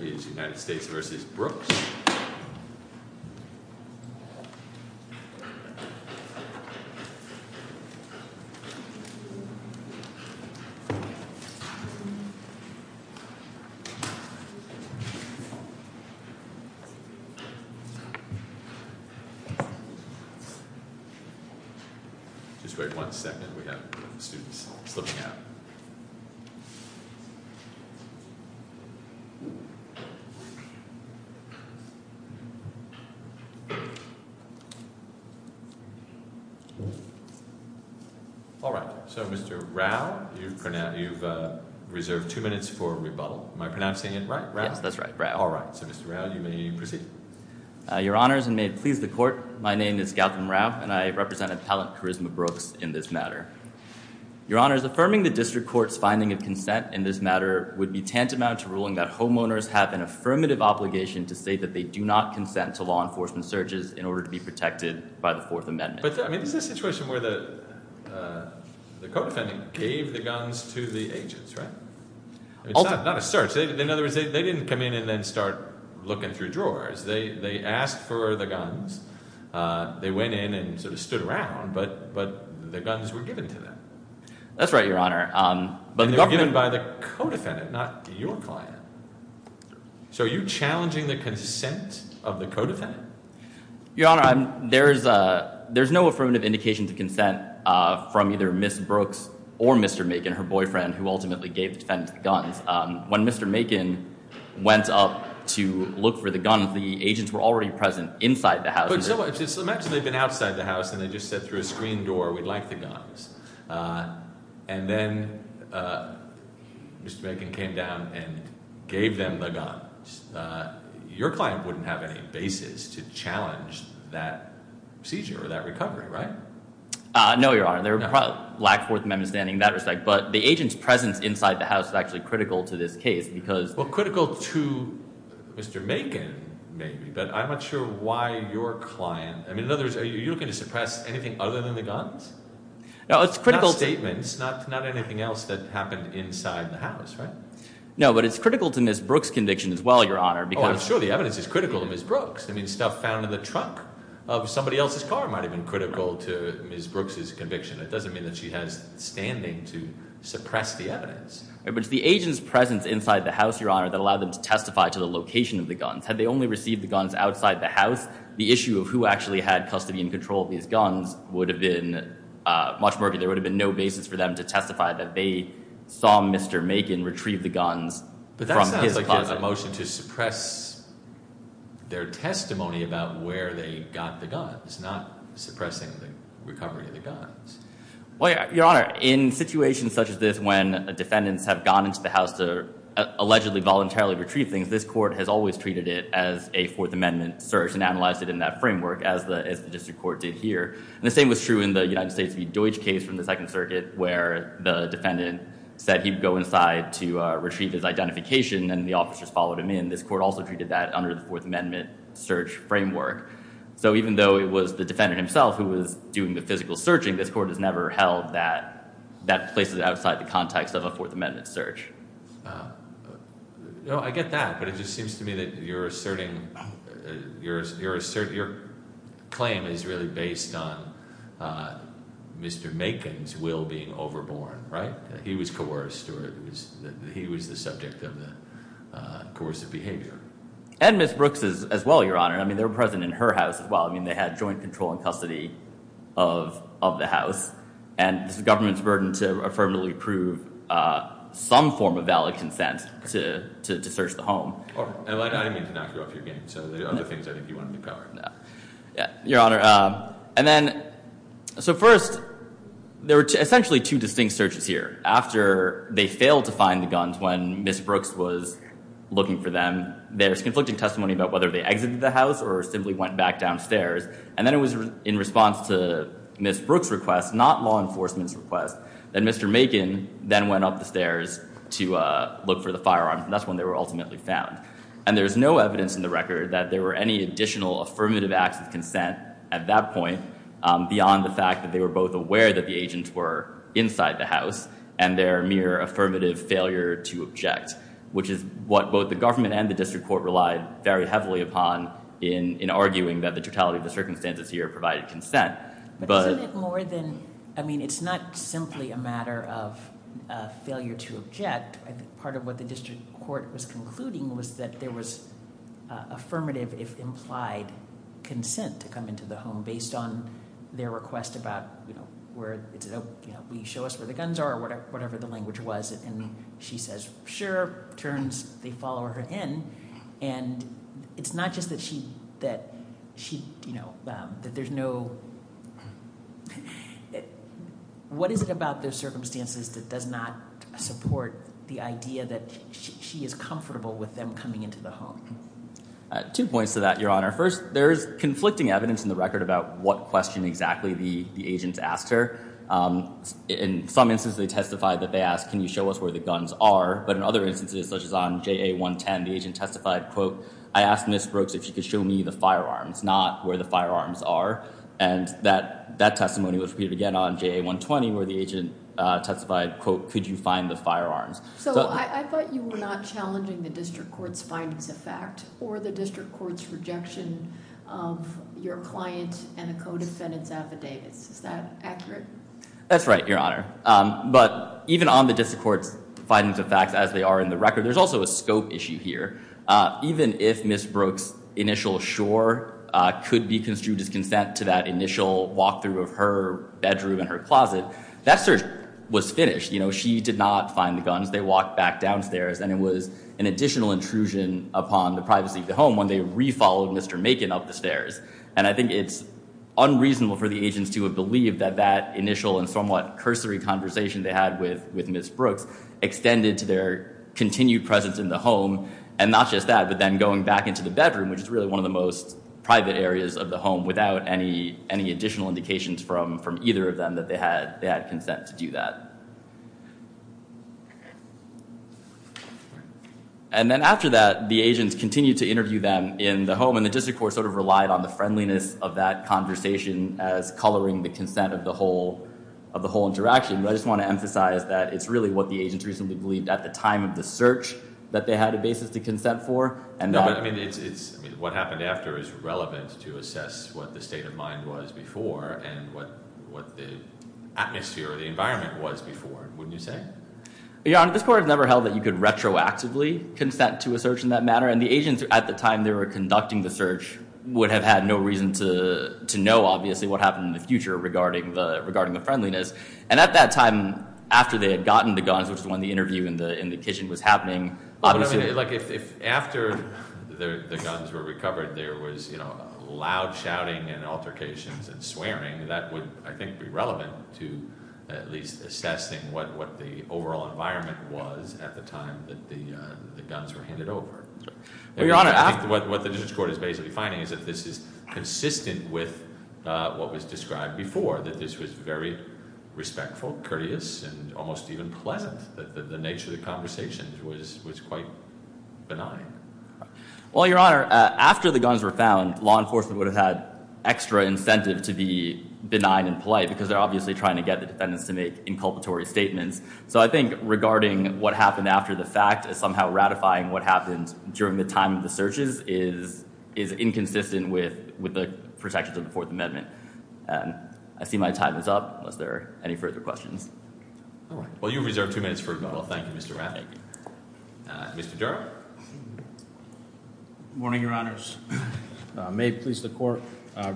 v. United States v. Brooks Mr. Rao, you've reserved two minutes for rebuttal. Am I pronouncing it right, Rao? Yes, that's right, Rao. All right. So Mr. Rao, you may proceed. Your Honors, and may it please the Court, my name is Gautam Rao, and I represent Appellant Charisma Brooks in this matter. Your Honors, affirming the District Court's finding of consent in this matter would be tantamount to ruling that homeowners have an affirmative obligation to say that they do not consent to law enforcement searches in order to be protected by the Fourth Amendment. But, I mean, this is a situation where the co-defendant gave the guns to the agents, right? It's not a search. In other words, they didn't come in and then start looking through drawers. They asked for the guns. They went in and sort of stood around, but the guns were given to them. That's right, Your Honor. And they were given by the co-defendant, not your client. So are you challenging the consent of the co-defendant? Your Honor, there's no affirmative indication to consent from either Ms. Brooks or Mr. Macon, her boyfriend, who ultimately gave the defendants the guns. When Mr. Macon went up to look for the guns, the agents were already present inside the So imagine they've been outside the house, and they just said through a screen door, we'd like the guns. And then Mr. Macon came down and gave them the guns. Your client wouldn't have any basis to challenge that seizure or that recovery, right? No, Your Honor. They would probably lack Fourth Amendment standing in that respect. But the agents' presence inside the house is actually critical to this case because Well, critical to Mr. Macon, maybe. But I'm not sure why your client, I mean, in other words, are you looking to suppress anything other than the guns? No, it's critical Not statements, not anything else that happened inside the house, right? No, but it's critical to Ms. Brooks' conviction as well, Your Honor, because Oh, I'm sure the evidence is critical to Ms. Brooks. I mean, stuff found in the trunk of somebody else's car might have been critical to Ms. Brooks' conviction. It doesn't mean that she has standing to suppress the evidence. But it's the agents' presence inside the house, Your Honor, that allowed them to testify to the location of the guns. Had they only received the guns outside the house, the issue of who actually had custody and control of these guns would have been much more, there would have been no basis for them to testify that they saw Mr. Macon retrieve the guns from his closet. But that sounds like a motion to suppress their testimony about where they got the guns, not suppressing the recovery of the guns. Well, Your Honor, in situations such as this, when defendants have gone into the house to allegedly voluntarily retrieve things, this court has always treated it as a Fourth Amendment search and analyzed it in that framework as the district court did here. And the same was true in the United States v. Deutsch case from the Second Circuit where the defendant said he'd go inside to retrieve his identification and the officers followed him in. This court also treated that under the Fourth Amendment search framework. So even though it was the defendant himself who was doing the physical searching, this court has never held that that places it outside the context of a Fourth Amendment search. No, I get that, but it just seems to me that you're asserting, your claim is really based on Mr. Macon's will being overborne, right? He was coerced or he was the subject of the coercive behavior. And Ms. Brooks as well, Your Honor. I mean, they were present in her house as well. I mean, they had joint control and custody of the house. And it's the government's burden to affirmatively approve some form of valid consent to search the home. I didn't mean to knock you off your game. So there are other things I think you want me to cover. Your Honor, and then, so first, there were essentially two distinct searches here. After they failed to find the guns when Ms. Brooks was looking for them, there's conflicting testimony about whether they exited the house or simply went back downstairs. And then it was in response to Ms. Brooks' request, not law enforcement's request, that Mr. Macon then went up the stairs to look for the firearms. And that's when they were ultimately found. And there's no evidence in the record that there were any additional affirmative acts of consent at that point beyond the fact that they were both aware that the agents were inside the house and their mere affirmative failure to object. Which is what both the government and the district court relied very heavily upon in arguing that the totality of the circumstances here provided consent. But isn't it more than, I mean, it's not simply a matter of failure to object. Part of what the district court was concluding was that there was affirmative, if implied, consent to come into the home based on their request about, you know, we show us where the guns are or whatever the language was. And she says, sure, turns, they follow her in. And it's not just that she, you know, that there's no, what is it about those circumstances that does not support the idea that she is comfortable with them coming into the home? Two points to that, Your Honor. First, there is conflicting evidence in the record about what question exactly the agent asked her. In some instances they testified that they asked, can you show us where the guns are? But in other instances, such as on JA 110, the agent testified, quote, I asked Ms. Brooks if she could show me the firearms, not where the firearms are. And that testimony was repeated again on JA 120, where the agent testified, quote, could you find the firearms? So I thought you were not challenging the district court's findings of fact or the district court's rejection of your client and a co-defendant's affidavits. Is that accurate? That's right, Your Honor. But even on the district court's findings of fact, as they are in the record, there's also a scope issue here. Even if Ms. Brooks' initial sure could be construed as consent to that initial walkthrough of her bedroom and her closet, that search was finished. You know, she did not find the guns. They walked back downstairs and it was an additional intrusion upon the privacy of the home when they re-followed Mr. Macon up the stairs. And I think it's unreasonable for the agents to have believed that that initial and somewhat cursory conversation they had with Ms. Brooks extended to their continued presence in the home. And not just that, but then going back into the bedroom, which is really one of the most private areas of the home without any additional indications from either of them that they had consent to do that. And then after that, the agents continued to interview them in the home. And the district court sort of relied on the friendliness of that conversation as coloring the consent of the whole interaction. But I just want to emphasize that it's really what the agents recently believed at the time of the search that they had a basis to consent for. No, but what happened after is relevant to assess what the state of mind was before and what the atmosphere or the environment was before, wouldn't you say? Your Honor, this Court has never held that you could retroactively consent to a search in that manner. And the agents, at the time they were conducting the search, would have had no reason to know, obviously, what happened in the future regarding the friendliness. And at that time, after they had gotten the guns, which is when the interview in the kitchen was happening, obviously- But I mean, like if after the guns were recovered, there was, you know, loud shouting and altercations and swearing, that would, I think, be relevant to at least assessing what the overall environment was at the time that the guns were handed over. Your Honor, after- What the District Court is basically finding is that this is consistent with what was described before, that this was very respectful, courteous, and almost even pleasant, that the nature of the conversations was quite benign. Well, Your Honor, after the guns were found, law enforcement would have had extra incentive to be benign and polite, because they're obviously trying to get the defendants to make inculpatory statements. So I think regarding what happened after the fact as somehow ratifying what happened during the time of the searches is inconsistent with the protections of the Fourth Amendment. I see my time is up, unless there are any further questions. Well, you have reserved two minutes for rebuttal. Thank you, Mr. Rafferty. Mr. Durham? Good morning, Your Honors. May it please the Court,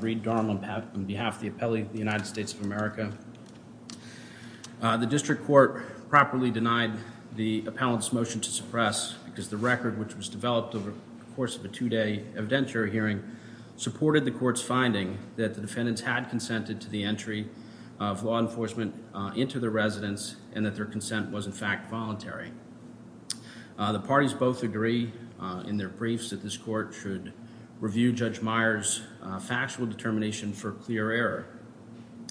Reid Durham on behalf of the Appellee of the United States of America. The District Court properly denied the appellant's motion to suppress, because the record, which was developed over the course of a two-day evidentiary hearing, supported the Court's finding that the defendants had consented to the entry of law enforcement into their residence, and that their consent was, in fact, The parties both agree in their briefs that this Court should review Judge Meyer's factual determination for clear error.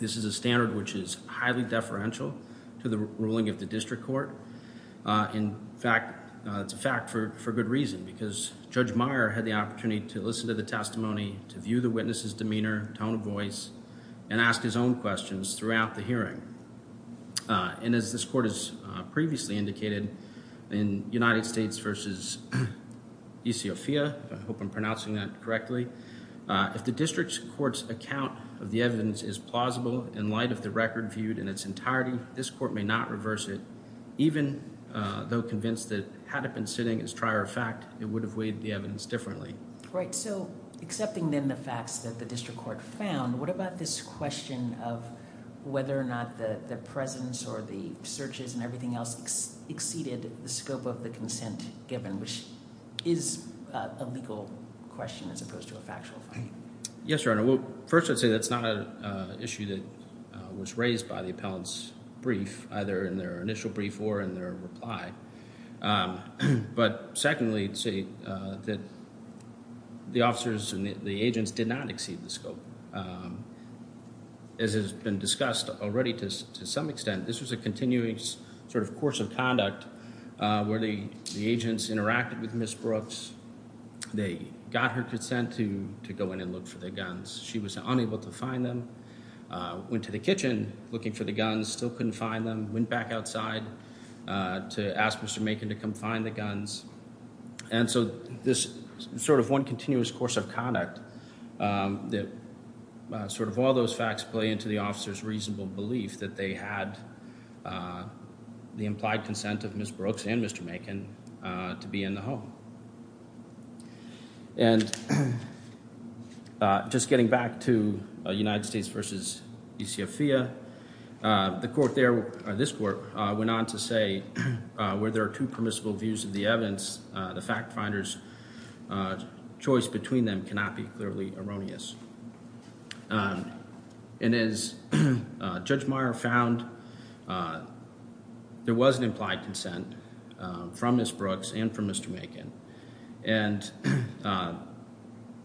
This is a standard which is highly deferential to the ruling of the District Court. In fact, it's a fact for good reason, because Judge Meyer had the opportunity to listen to the testimony, to view the witness's demeanor, tone of voice, and ask his own questions throughout the hearing. And as this Court has previously indicated, in United States v. Ethiopia, if I hope I'm pronouncing that correctly, if the District Court's account of the evidence is plausible in light of the record viewed in its entirety, this Court may not reverse it, even though convinced that had it been sitting as trier of fact, it would have weighed the evidence differently. Right. So, accepting then the facts that the District Court found, what about this question of whether or not the presence or the searches and everything else exceeded the scope of the consent given, which is a legal question as opposed to a factual finding? Yes, Your Honor. First, I'd say that's not an issue that was raised by the appellant's brief, either in their initial brief or in their reply. But secondly, I'd say that the officers and the agents did not exceed the scope. As has been discussed already to some extent, this was a continuing sort of course of conduct where the agents interacted with Ms. Brooks, they got her consent to go in and look for the guns. She was unable to find them, went to the kitchen looking for the guns, still couldn't find them, went back outside to ask Mr. Macon to come find the guns. And so, this sort of one continuous course of conduct that sort of all those facts play into the officers' reasonable belief that they had the implied consent of Ms. Brooks and Mr. Macon to be in the home. And just getting back to United States v. ECF-FIA, the court there, this court, went on to say where there are two permissible views of the evidence, the fact finder's choice between them cannot be clearly erroneous. And as Judge Meyer found, there was an implied consent from Ms. Brooks and from Mr. Macon and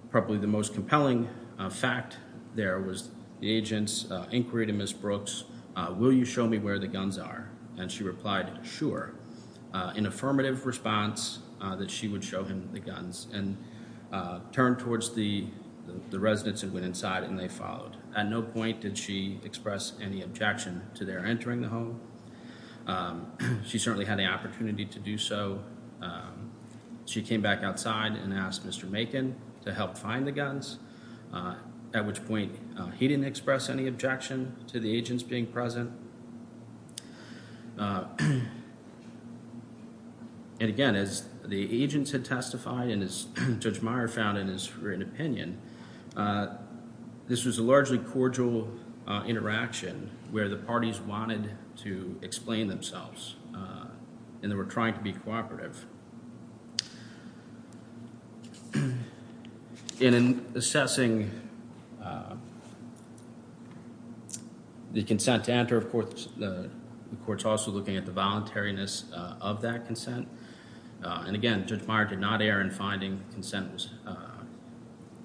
probably the most compelling fact there was the agent's inquiry to Ms. Brooks, will you show me where the guns are? And she replied, sure. In affirmative response, that she would show him the guns and turn towards the residents that went inside and they followed. At no point did she express any objection to their entering the home. She certainly had the opportunity to do so She came back outside and asked Mr. Macon to help find the guns, at which point he didn't express any objection to the agents being present. And again, as the agents had testified and as Judge Meyer found in his written opinion, this was a largely cordial interaction where the parties wanted to explain themselves and they were trying to be cooperative. In assessing the consent to enter, of course, the court's also looking at the voluntariness of that consent. And again, Judge Meyer did not err in finding consent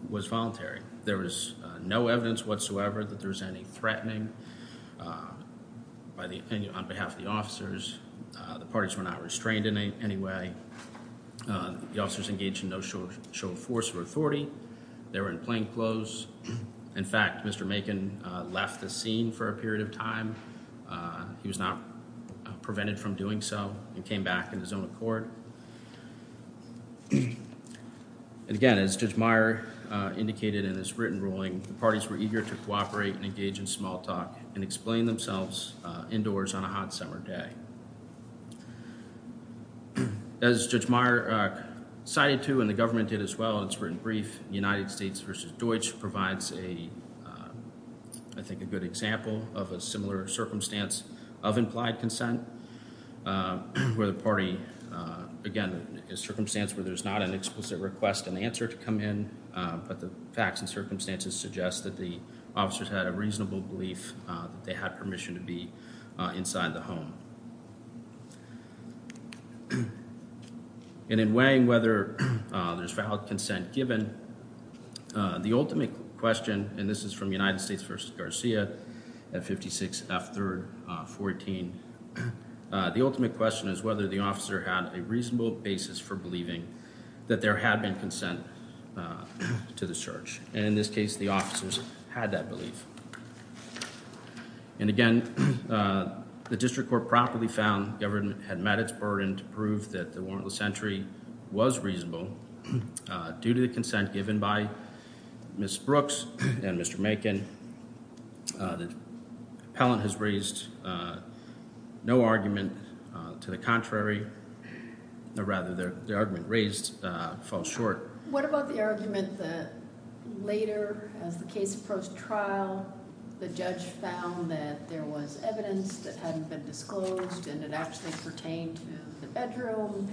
was voluntary. There was no evidence whatsoever that there was any threatening by the opinion on behalf of the officers. The parties were not restrained in any way. The officers engaged in no show of force or authority. They were in plain clothes. In fact, Mr. Macon left the scene for a period of time. He was not prevented from doing so and came back in his own accord. And again, as Judge Meyer indicated in his written ruling, the parties were eager to cooperate and engage in small talk and explain themselves indoors on a hot summer day. As Judge Meyer cited to and the government did as well in its written brief, United States v. Deutsch provides a, I think, a good example of a similar circumstance of implied consent where the party again, a circumstance where there's not an explicit request and answer to come in, but the circumstances suggest that the officers had a reasonable belief that they had permission to be inside the home. And in weighing whether there's valid consent given, the ultimate question, and this is from United States v. Garcia at 56 F. 3rd, 14, the ultimate question is whether the officer had a reasonable basis for believing that there had been consent to the search. And in this case, the officers had that belief. And again, the district court properly found the government had met its burden to prove that the warrantless entry was reasonable due to the consent given by Ms. Brooks and Mr. Macon. The appellant has raised no argument to the contrary. Or rather, the argument raised falls short. What about the argument that later, as the case approached trial, the judge found that there was evidence that hadn't been disclosed and it actually pertained to the bedroom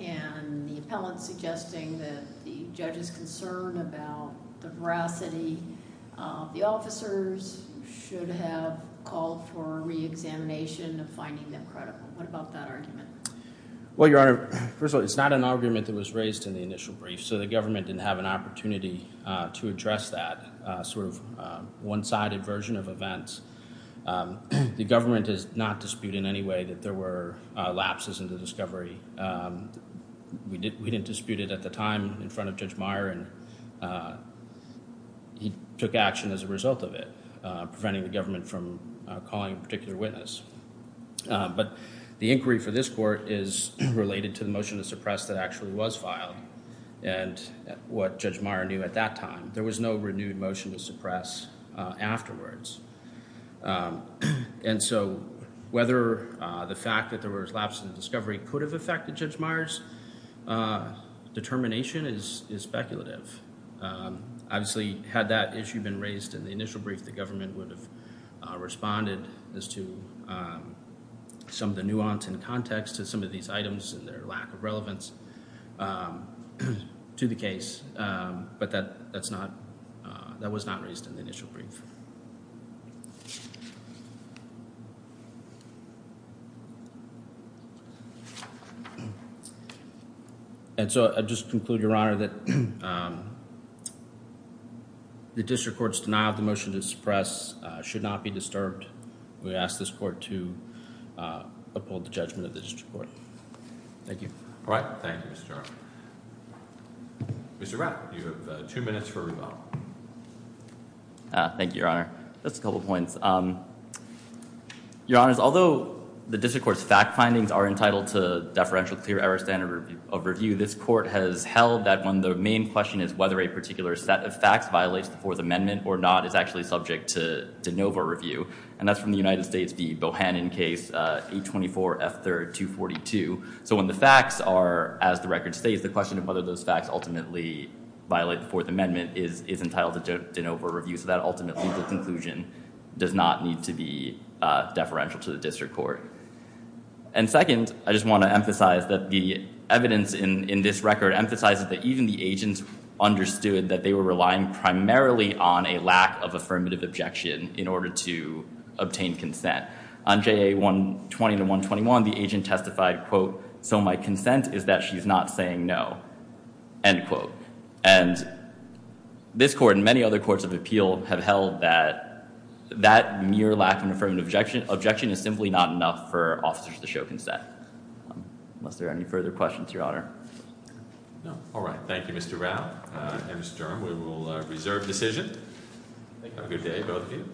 and the appellant suggesting that the judge's concern about the veracity of the officers should have called for re-examination of finding them credible. What about that argument? Well, Your Honor, first of all, it's not an argument that was raised in the initial brief. So the government didn't have an opportunity to address that one-sided version of events. The government does not dispute in any way that there were lapses in the discovery. We didn't dispute it at the time in front of Judge Meyer and he took action as a result of it, preventing the government from calling a particular witness. But the inquiry for this court is related to the motion to suppress that actually was filed and what Judge Meyer knew at that time. There was no renewed motion to suppress afterwards. And so whether the fact that there were lapses in the discovery could have affected Judge Meyer's determination is speculative. Obviously, had that issue been raised in the initial brief, the government would have responded as to some of the nuance and context to some of these items and their lack of to the case. But that was not raised in the initial brief. And so I'll just conclude, Your Honor, that the district court's denial of the motion to suppress should not be disturbed. We ask this court to uphold the judgment of the district court. Thank you. Thank you, Mr. Chairman. Mr. Rapp, you have two minutes for rebuttal. Thank you, Your Honor. Just a couple points. Your Honors, although the district court's fact findings are entitled to deferential clear error standard of review, this court has held that when the main question is whether a particular set of facts violates the Fourth Amendment or not, it's actually subject to de novo review. And that's from the United States v. Bohannon case 824 F. 3rd 242. So when the facts are, as the record states, the question of whether those facts ultimately violate the Fourth Amendment is entitled to de novo review. So that ultimately, the conclusion does not need to be deferential to the district court. And second, I just want to emphasize that the evidence in this record emphasizes that even the agents understood that they were relying primarily on a lack of affirmative objection in order to obtain consent. On JA 120-121, the agent testified, quote, so my consent is that she's not saying no. End quote. And this court and many other courts of appeal have held that that mere lack of affirmative objection is simply not enough for officers to show consent. Are there any further questions, Your Honor? No. All right. Thank you, Mr. Rao and Mr. Durham. We will reserve decision. Have a good day, both of you.